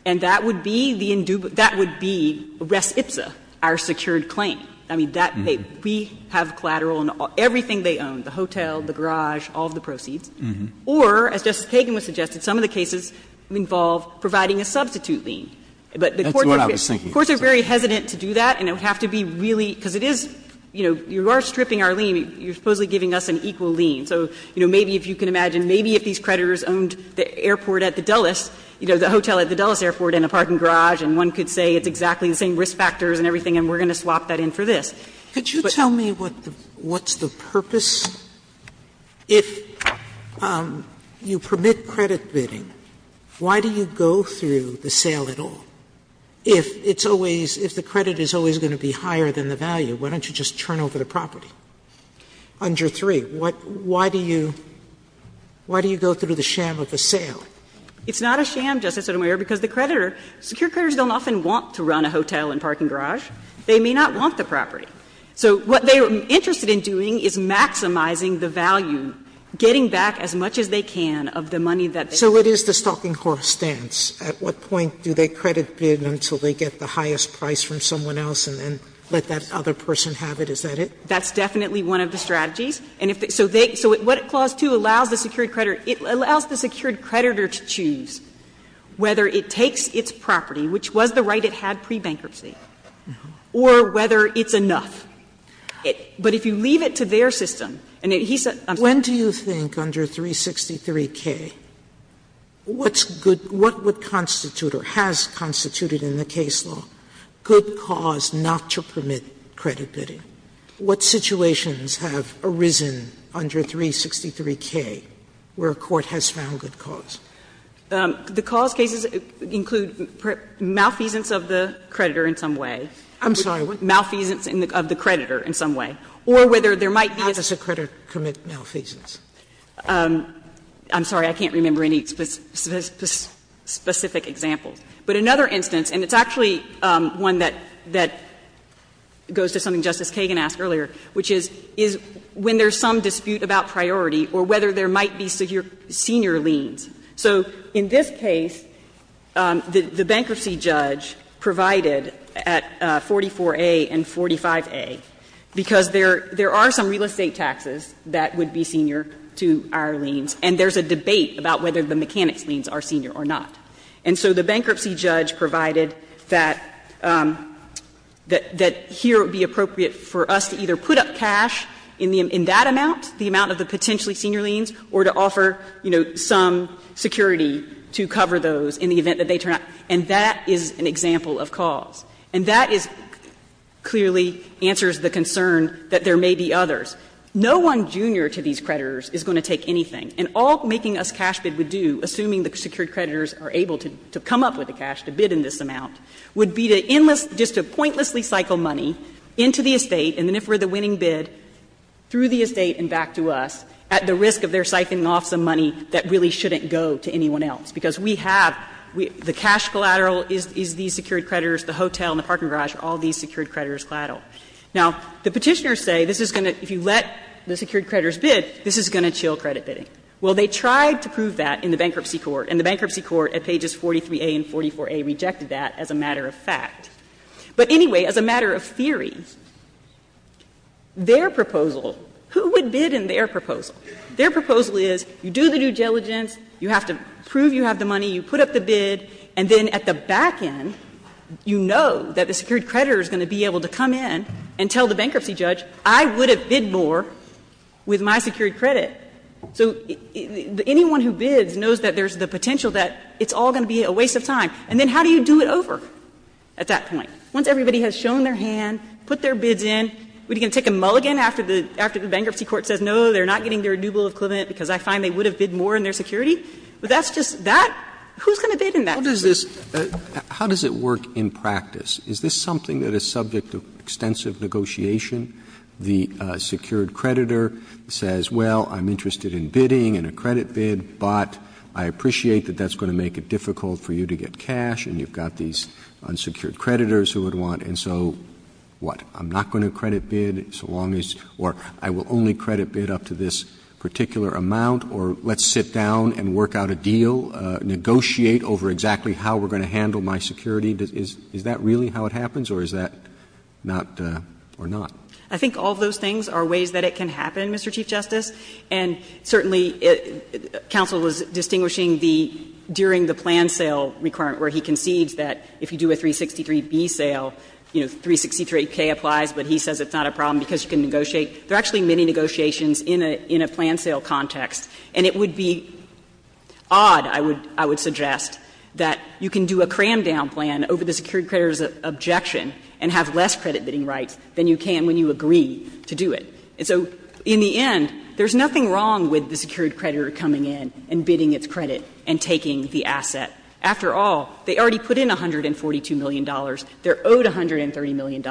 and that would be the indubitable, that would be res ipsa, our secured claim. I mean, that, we have collateral on everything they own, the hotel, the garage, all of the proceeds. Or, as Justice Kagan was suggesting, some of the cases involve providing a substitute lien. But the courts are very hesitant to do that and it would have to be really, because it is, you know, you are stripping our lien, you're supposedly giving us an equal lien. So, you know, maybe if you can imagine, maybe if these creditors owned the airport at the Dulles, you know, the hotel at the Dulles airport and a parking garage, and one could say it's exactly the same risk factors and everything and we're going to swap that in for this. Sotomayor, could you tell me what's the purpose? If you permit credit bidding, why do you go through the sale at all? If it's always, if the credit is always going to be higher than the value, why don't you just turn over the property? Under 3, what, why do you, why do you go through the sham of the sale? It's not a sham, Justice Sotomayor, because the creditor, secure creditors don't often want to run a hotel and parking garage. They may not want the property. So what they are interested in doing is maximizing the value, getting back as much as they can of the money that they owe. So it is the stalking horse stance. At what point do they credit bid until they get the highest price from someone else and then let that other person have it? Is that it? That's definitely one of the strategies. And if they, so they, so what clause 2 allows the secured creditor, it allows the secured creditor to choose whether it takes its property, which was the right it had pre-bankruptcy, or whether it's enough. But if you leave it to their system, and he said, I'm sorry, I'm sorry, I'm sorry. Sotomayor, when do you think under 363K, what's good, what would constitute or has constituted in the case law good cause not to permit credit bidding? What situations have arisen under 363K where a court has found good cause? The cause cases include malfeasance of the creditor in some way. I'm sorry. Malfeasance of the creditor in some way. Or whether there might be a. How does a creditor commit malfeasance? I'm sorry. I can't remember any specific examples. But another instance, and it's actually one that goes to something Justice Kagan asked earlier, which is, is when there's some dispute about priority or whether there might be senior liens. So in this case, the bankruptcy judge provided at 44A and 45A, because there are some real estate taxes that would be senior to our liens, and there's a debate about whether the mechanics liens are senior or not. And so the bankruptcy judge provided that here it would be appropriate for us to either put up cash in that amount, the amount of the potentially senior liens, or to offer, you know, some security to cover those in the event that they turn out. And that is an example of cause. And that is clearly answers the concern that there may be others. No one junior to these creditors is going to take anything. And all Making Us Cash Bid would do, assuming the secured creditors are able to come up with the cash to bid in this amount, would be to enlist, just to pointlessly cycle money into the estate, and then if we're the winning bid, through the estate and back to us, at the risk of their siphoning off some money that really shouldn't go to anyone else. Because we have the cash collateral is these secured creditors, the hotel and the parking garage are all these secured creditors collateral. Now, the Petitioners say this is going to, if you let the secured creditors bid, this is going to chill credit bidding. Well, they tried to prove that in the bankruptcy court, and the bankruptcy court at pages 43a and 44a rejected that as a matter of fact. But anyway, as a matter of theory, their proposal, who would bid in their proposal? Their proposal is you do the due diligence, you have to prove you have the money, you put up the bid, and then at the back end, you know that the secured creditor is going to be able to come in and tell the bankruptcy judge, I would have bid more with my secured credit. So anyone who bids knows that there's the potential that it's all going to be a waste of time. And then how do you do it over at that point? Once everybody has shown their hand, put their bids in, we're going to take a mulligan after the bankruptcy court says, no, they're not getting their renewal of equivalent because I find they would have bid more in their security? But that's just that? Who's going to bid in that case? Roberts, how does this work in practice? Is this something that is subject to extensive negotiation? The secured creditor says, well, I'm interested in bidding and a credit bid, but I appreciate that that's going to make it difficult for you to get cash and you've got these unsecured creditors who would want, and so what? I'm not going to credit bid so long as or I will only credit bid up to this particular amount or let's sit down and work out a deal, negotiate over exactly how we're going to handle my security? Is that really how it happens or is that not or not? I think all those things are ways that it can happen, Mr. Chief Justice. And certainly, counsel was distinguishing the, during the plan sale requirement where he concedes that if you do a 363B sale, you know, 363K applies, but he says it's not a problem because you can negotiate. There are actually many negotiations in a plan sale context, and it would be odd, I would suggest, that you can do a cram-down plan over the secured creditor's objection and have less credit-bidding rights than you can when you agree to do it. And so in the end, there's nothing wrong with the secured creditor coming in and bidding its credit and taking the asset. After all, they already put in $142 million. They're owed $130 million.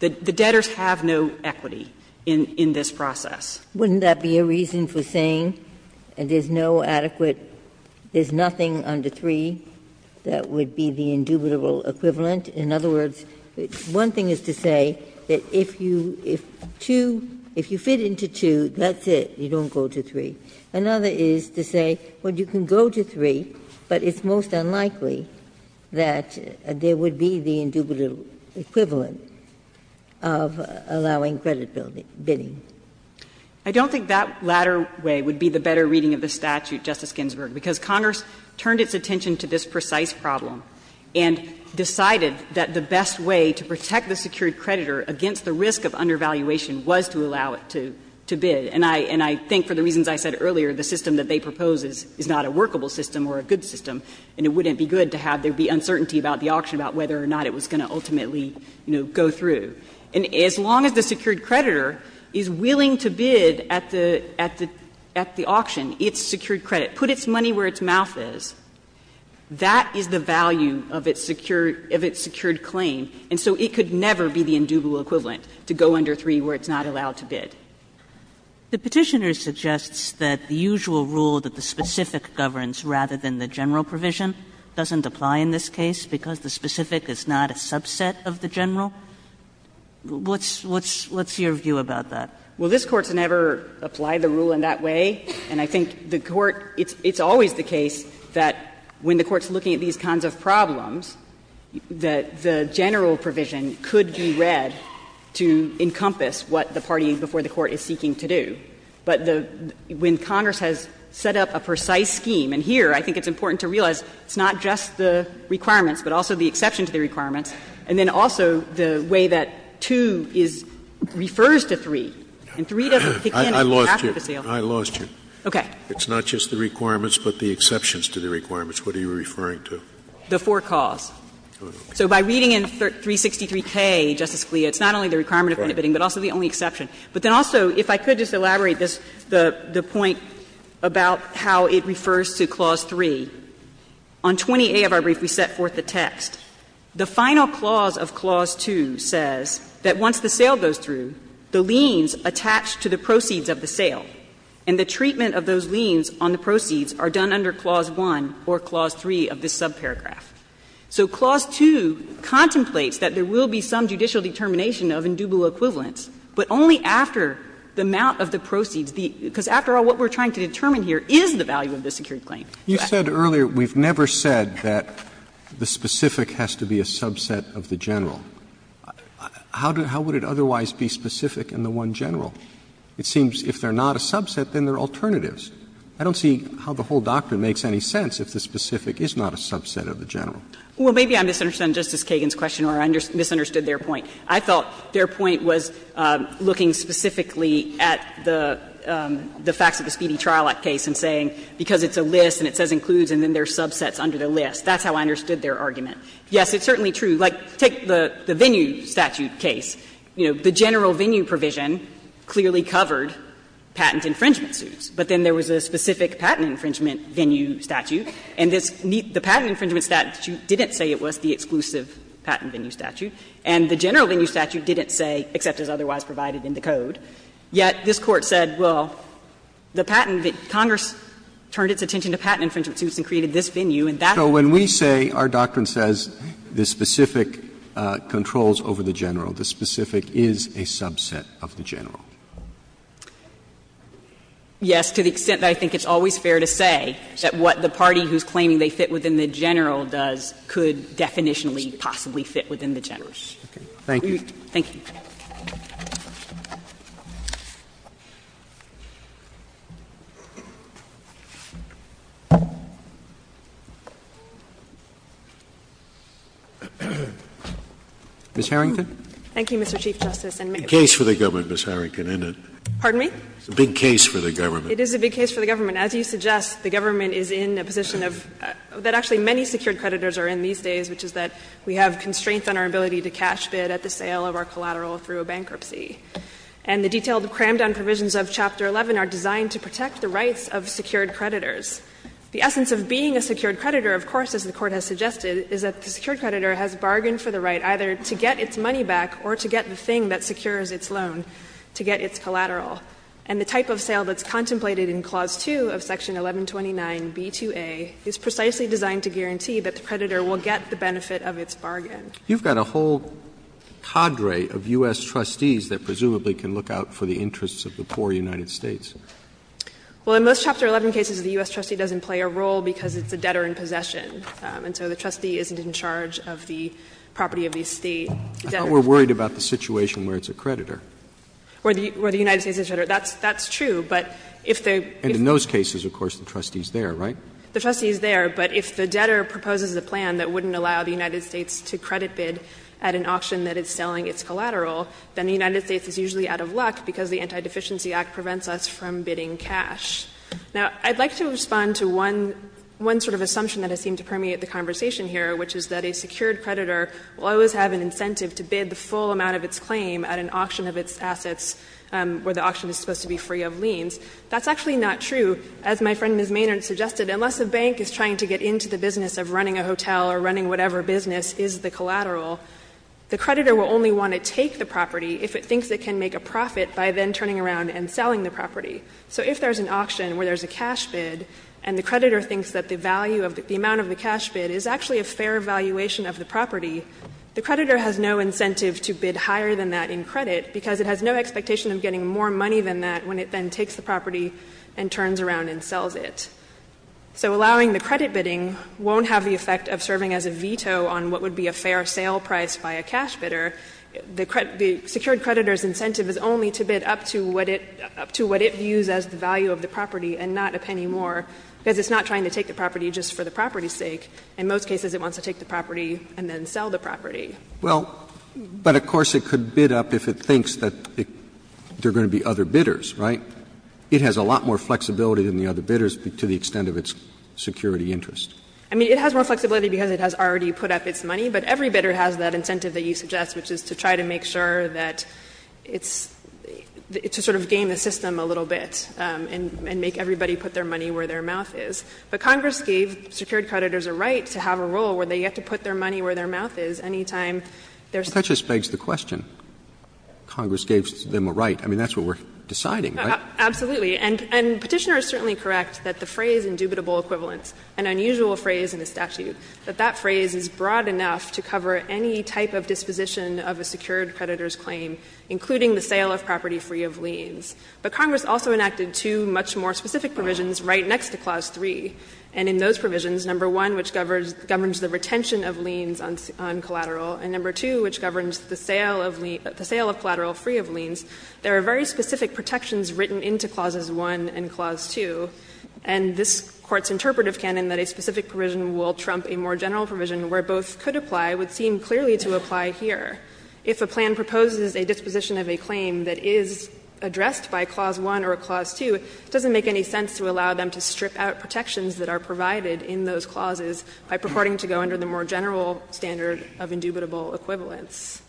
The debtors have no equity in this process. Wouldn't that be a reason for saying there's no adequate, there's nothing under 3 that would be the indubitable equivalent? In other words, one thing is to say that if you, if 2, if you fit into 2, that's it, you don't go to 3. Another is to say, well, you can go to 3, but it's most unlikely that there would be the indubitable equivalent of allowing credit-bidding. I don't think that latter way would be the better reading of the statute, Justice Kagan, who paid close attention to this precise problem and decided that the best way to protect the secured creditor against the risk of undervaluation was to allow it to bid. And I think for the reasons I said earlier, the system that they propose is not a workable system or a good system, and it wouldn't be good to have there be uncertainty about the auction, about whether or not it was going to ultimately, you know, go through. And as long as the secured creditor is willing to bid at the auction, it's secured credit, put its money where its mouth is, that is the value of its secured claim. And so it could never be the indubitable equivalent to go under 3 where it's not allowed to bid. Kagan, The Petitioner suggests that the usual rule that the specific governs rather than the general provision doesn't apply in this case because the specific is not a subset of the general. What's your view about that? Well, this Court's never applied the rule in that way, and I think the Court – it's always the case that when the Court's looking at these kinds of problems, that the general provision could be read to encompass what the party before the Court is seeking to do. But the – when Congress has set up a precise scheme, and here I think it's important to realize it's not just the requirements, but also the exception to the requirements, and then also the way that 2 is – refers to 3, and 3 doesn't pick in at half of Scalia, I lost you. I lost you. Okay. It's not just the requirements, but the exceptions to the requirements. What are you referring to? The forecalls. So by reading in 363K, Justice Scalia, it's not only the requirement of individual bidding, but also the only exception. But then also, if I could just elaborate this, the point about how it refers to Clause 3, on 20A of our brief, we set forth the text. The final clause of Clause 2 says that once the sale goes through, the liens attach to the proceeds of the sale, and the treatment of those liens on the proceeds are done under Clause 1 or Clause 3 of this subparagraph. So Clause 2 contemplates that there will be some judicial determination of indubitable equivalents, but only after the amount of the proceeds. Because after all, what we're trying to determine here is the value of the secured claim. Roberts You said earlier we've never said that the specific has to be a subset of the general. How would it otherwise be specific in the one general? It seems if they're not a subset, then they're alternatives. I don't see how the whole doctrine makes any sense if the specific is not a subset of the general. Well, maybe I misunderstood Justice Kagan's question or I misunderstood their point. I felt their point was looking specifically at the facts of the Speedy Trial Act case and saying because it's a list and it says includes and then there's subsets under the list. That's how I understood their argument. Yes, it's certainly true. Like, take the venue statute case. You know, the general venue provision clearly covered patent infringement suits, but then there was a specific patent infringement venue statute, and this patent infringement statute didn't say it was the exclusive patent venue statute, and the general venue statute didn't say, except as otherwise provided in the Code, yet this Court said, well, the patent that Congress turned its attention to patent infringement suits and created this venue, and that's the venue statute. So when we say, our doctrine says the specific controls over the general, the specific is a subset of the general. Yes, to the extent that I think it's always fair to say that what the party who's claiming they fit within the general does could definitionally possibly fit within the general. Thank you. Thank you. Ms. Harrington. Thank you, Mr. Chief Justice, and may I? It's a case for the government, Ms. Harrington, isn't it? Pardon me? It's a big case for the government. It is a big case for the government. As you suggest, the government is in a position of — that actually many secured creditors are in these days, which is that we have constraints on our ability to cash a collateral through a bankruptcy. And the detailed crammed-down provisions of Chapter 11 are designed to protect the rights of secured creditors. The essence of being a secured creditor, of course, as the Court has suggested, is that the secured creditor has bargained for the right either to get its money back or to get the thing that secures its loan to get its collateral. And the type of sale that's contemplated in Clause 2 of Section 1129b2a is precisely designed to guarantee that the creditor will get the benefit of its bargain. You've got a whole cadre of U.S. trustees that presumably can look out for the interests of the poor United States. Well, in most Chapter 11 cases, the U.S. trustee doesn't play a role because it's a debtor in possession. And so the trustee isn't in charge of the property of the estate. I thought we were worried about the situation where it's a creditor. Where the United States is a creditor. That's true, but if the — And in those cases, of course, the trustee is there, right? The trustee is there, but if the debtor proposes a plan that wouldn't allow the United States to credit bid at an auction that is selling its collateral, then the United States is usually out of luck because the Anti-Deficiency Act prevents us from bidding cash. Now, I'd like to respond to one — one sort of assumption that has seemed to permeate the conversation here, which is that a secured creditor will always have an incentive to bid the full amount of its claim at an auction of its assets where the auction is supposed to be free of liens. That's actually not true. As my friend Ms. Maynard suggested, unless a bank is trying to get into the business of running a hotel or running whatever business is the collateral, the creditor will only want to take the property if it thinks it can make a profit by then turning around and selling the property. So if there's an auction where there's a cash bid and the creditor thinks that the value of the — the amount of the cash bid is actually a fair valuation of the property, the creditor has no incentive to bid higher than that in credit because it has no expectation of getting more money than that when it then takes the property and turns around and sells it. So allowing the credit bidding won't have the effect of serving as a veto on what would be a fair sale price by a cash bidder. The secured creditor's incentive is only to bid up to what it — up to what it views as the value of the property and not a penny more, because it's not trying to take the property just for the property's sake. In most cases, it wants to take the property and then sell the property. Roberts, but, of course, it could bid up if it thinks that there are going to be other bidders, right? But it has a lot more flexibility than the other bidders to the extent of its security interest. I mean, it has more flexibility because it has already put up its money, but every bidder has that incentive that you suggest, which is to try to make sure that it's — to sort of game the system a little bit and make everybody put their money where their mouth is. But Congress gave secured creditors a right to have a role where they get to put their money where their mouth is any time there's a bid. Well, that just begs the question. Congress gave them a right. I mean, that's what we're deciding, right? Absolutely. And Petitioner is certainly correct that the phrase indubitable equivalence, an unusual phrase in the statute, that that phrase is broad enough to cover any type of disposition of a secured creditor's claim, including the sale of property free of liens. But Congress also enacted two much more specific provisions right next to Clause 3. And in those provisions, number one, which governs the retention of liens on collateral, and number two, which governs the sale of collateral free of liens, there are very specific protections written into Clauses 1 and Clause 2. And this Court's interpretive canon that a specific provision will trump a more general provision where both could apply would seem clearly to apply here. If a plan proposes a disposition of a claim that is addressed by Clause 1 or Clause 2, it doesn't make any sense to allow them to strip out protections that are provided in those clauses by purporting to go under the more general standard of indubitable equivalence.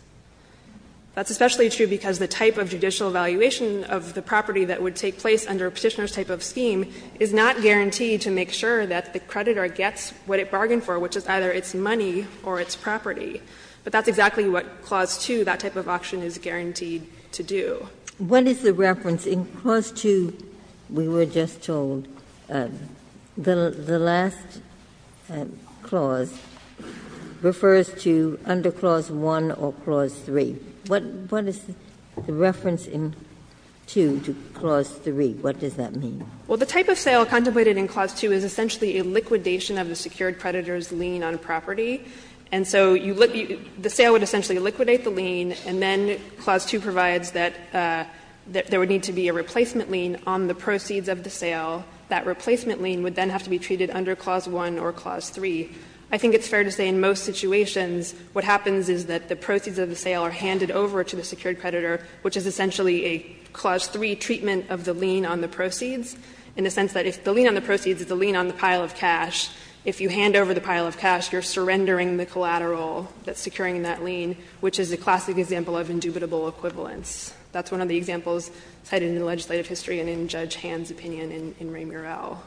That's especially true because the type of judicial valuation of the property that would take place under a Petitioner's type of scheme is not guaranteed to make sure that the creditor gets what it bargained for, which is either its money or its property. But that's exactly what Clause 2, that type of auction, is guaranteed to do. Ginsburg. What is the reference in Clause 2, we were just told, the last clause refers to under Clause 1 or Clause 3, what is the reference in 2 to Clause 3, what does that mean? Well, the type of sale contemplated in Clause 2 is essentially a liquidation of the secured creditor's lien on a property. And so the sale would essentially liquidate the lien, and then Clause 2 provides that there would need to be a replacement lien on the proceeds of the sale. That replacement lien would then have to be treated under Clause 1 or Clause 3. I think it's fair to say in most situations what happens is that the proceeds of the sale are handed over to the secured creditor, which is essentially a Clause 3 treatment of the lien on the proceeds, in the sense that if the lien on the proceeds is the lien on the pile of cash, if you hand over the pile of cash, you're surrendering the collateral that's securing that lien, which is a classic example of indubitable equivalence. That's one of the examples cited in the legislative history and in Judge Hand's opinion in Ray Murrell.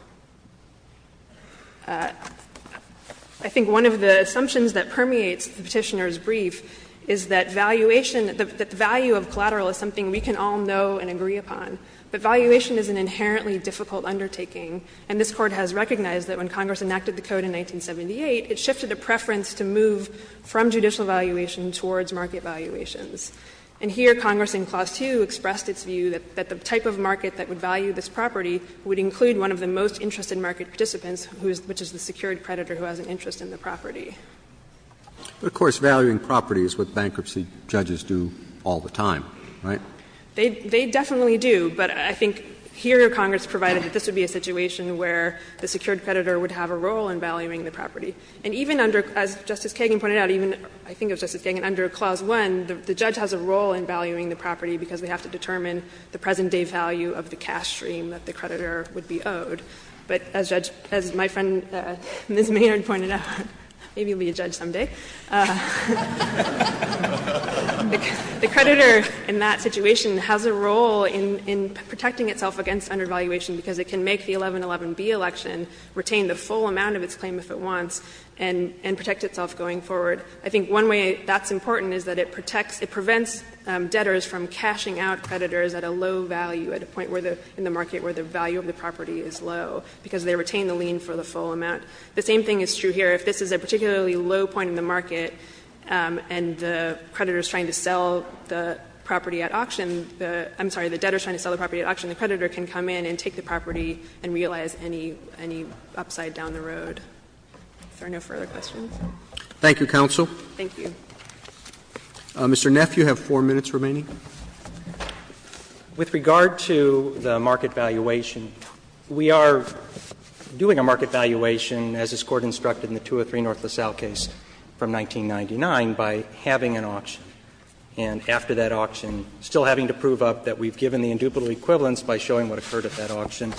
I think one of the assumptions that permeates the Petitioner's brief is that valuation the value of collateral is something we can all know and agree upon, but valuation is an inherently difficult undertaking, and this Court has recognized that when Congress enacted the Code in 1978, it shifted the preference to move from judicial valuation towards market valuations. And here Congress in Clause 2 expressed its view that the type of market that would most interest in market participants, which is the secured creditor who has an interest in the property. But, of course, valuing property is what bankruptcy judges do all the time, right? They definitely do, but I think here Congress provided that this would be a situation where the secured creditor would have a role in valuing the property. And even under, as Justice Kagan pointed out, even, I think it was Justice Kagan, under Clause 1, the judge has a role in valuing the property because they have to determine the present-day value of the cash stream that the creditor would be owed. But as Judge — as my friend Ms. Maynard pointed out, maybe you'll be a judge someday. The creditor in that situation has a role in protecting itself against undervaluation because it can make the 1111B election retain the full amount of its claim if it wants and protect itself going forward. I think one way that's important is that it protects — it prevents debtors from cashing out creditors at a low value, at a point where the — in the market where the value of the property is low, because they retain the lien for the full amount. The same thing is true here. If this is a particularly low point in the market and the creditor is trying to sell the property at auction, the — I'm sorry, the debtor is trying to sell the property at auction, the creditor can come in and take the property and realize any — any upside down the road. Are there no further questions? Roberts. Thank you, counsel. Thank you. Mr. Neff, you have 4 minutes remaining. With regard to the market valuation, we are doing a market valuation, as this Court instructed in the 203 North LaSalle case from 1999, by having an auction. And after that auction, still having to prove up that we've given the indubitable equivalence by showing what occurred at that auction.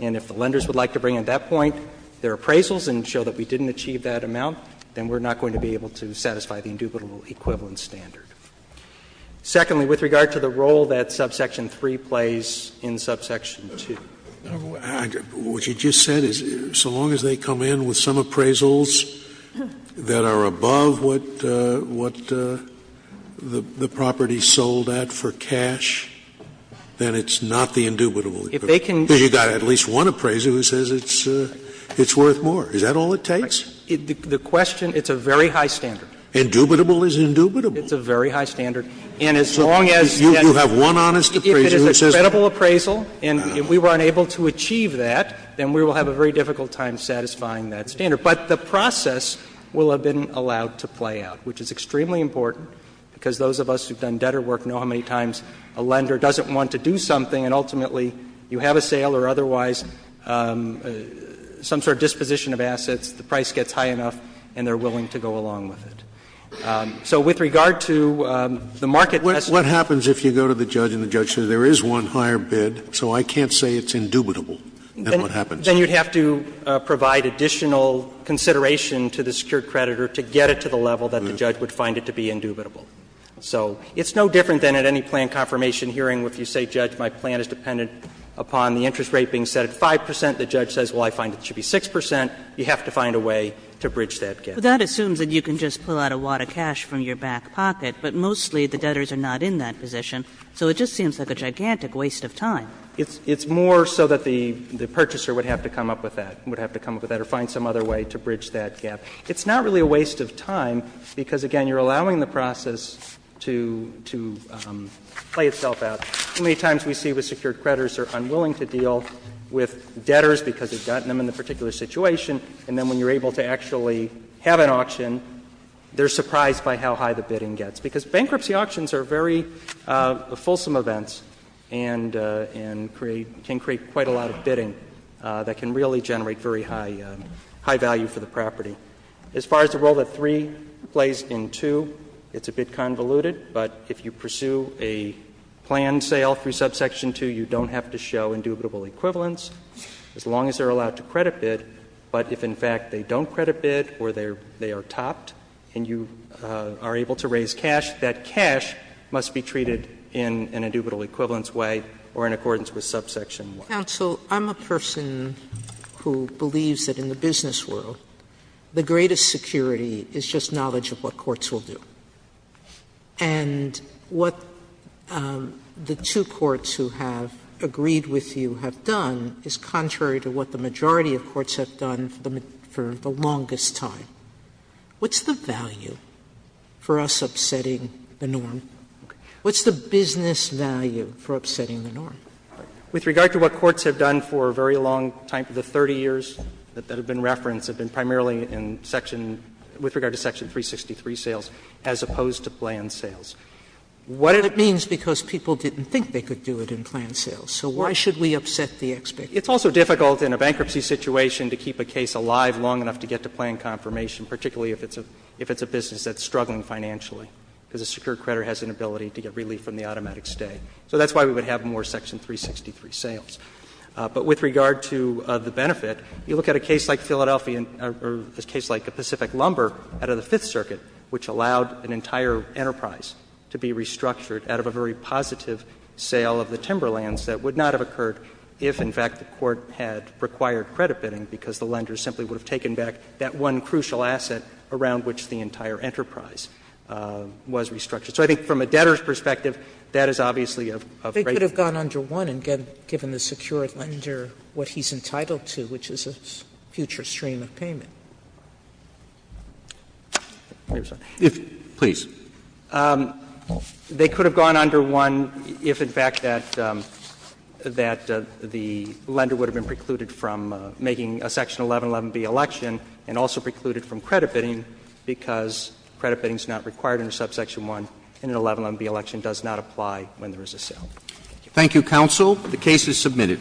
And if the lenders would like to bring at that point their appraisals and show that we didn't achieve that amount, then we're not going to be able to satisfy the indubitable equivalence standard. Secondly, with regard to the role that subsection 3 plays in subsection 2. Scalia. What you just said is so long as they come in with some appraisals that are above what the property sold at for cash, then it's not the indubitable equivalence. Because you've got at least one appraiser who says it's worth more. Is that all it takes? The question — it's a very high standard. Indubitable is indubitable. It's a very high standard. And as long as you have one honest appraiser who says it's worth more. If it is a credible appraisal and we were unable to achieve that, then we will have a very difficult time satisfying that standard. But the process will have been allowed to play out, which is extremely important, because those of us who have done debtor work know how many times a lender doesn't want to do something and ultimately you have a sale or otherwise some sort of disposition of assets, the price gets high enough, and they're willing to go along with it. So with regard to the market test. Scalia, what happens if you go to the judge and the judge says there is one higher bid, so I can't say it's indubitable? Then what happens? Then you would have to provide additional consideration to the secured creditor to get it to the level that the judge would find it to be indubitable. So it's no different than at any plan confirmation hearing where you say, Judge, my plan is dependent upon the interest rate being set at 5 percent, the judge says, well, I find it should be 6 percent. You have to find a way to bridge that gap. But that assumes that you can just pull out a wad of cash from your back pocket, but mostly the debtors are not in that position, so it just seems like a gigantic waste of time. It's more so that the purchaser would have to come up with that, would have to come up with that or find some other way to bridge that gap. It's not really a waste of time because, again, you're allowing the process to play itself out. How many times we see with secured creditors are unwilling to deal with debtors because they've gotten them in a particular situation, and then when you're able to actually have an auction, they're surprised by how high the bidding gets. Because bankruptcy auctions are very fulsome events and can create quite a lot of bidding that can really generate very high value for the property. As far as the role that 3 plays in 2, it's a bit convoluted, but if you pursue a planned sale through subsection 2, you don't have to show indubitable equivalents as long as they're allowed to credit bid, but if, in fact, they don't credit bid or they are topped and you are able to raise cash, that cash must be treated in an indubitable equivalence way or in accordance with subsection 1. Sotomayor, I'm a person who believes that in the business world, the greatest security is just knowledge of what courts will do. And what the two courts who have agreed with you have done is contrary to what the majority of courts have done for the longest time. What's the value for us upsetting the norm? What's the business value for upsetting the norm? With regard to what courts have done for a very long time, for the 30 years that have been referenced, have been primarily in section — with regard to section 363 sales, as opposed to planned sales. What it means, because people didn't think they could do it in planned sales. So why should we upset the expectation? It's also difficult in a bankruptcy situation to keep a case alive long enough to get to planned confirmation, particularly if it's a business that's struggling financially, because a secured creditor has an ability to get relief from the automatic stay. So that's why we would have more section 363 sales. But with regard to the benefit, you look at a case like Philadelphia or a case like the Pacific Lumber out of the Fifth Circuit, which allowed an entire enterprise to be restructured out of a very positive sale of the timberlands that would not have had required credit bidding, because the lender simply would have taken back that one crucial asset around which the entire enterprise was restructured. So I think from a debtor's perspective, that is obviously of great concern. Sotomayor They could have gone under 1 and given the secured lender what he's entitled to, which is a future stream of payment. Roberts Please. They could have gone under 1 if, in fact, that the lender would have been precluded from making a section 1111B election and also precluded from credit bidding because credit bidding is not required under subsection 1 and an 1111B election does not apply when there is a sale. Thank you, counsel. The case is submitted.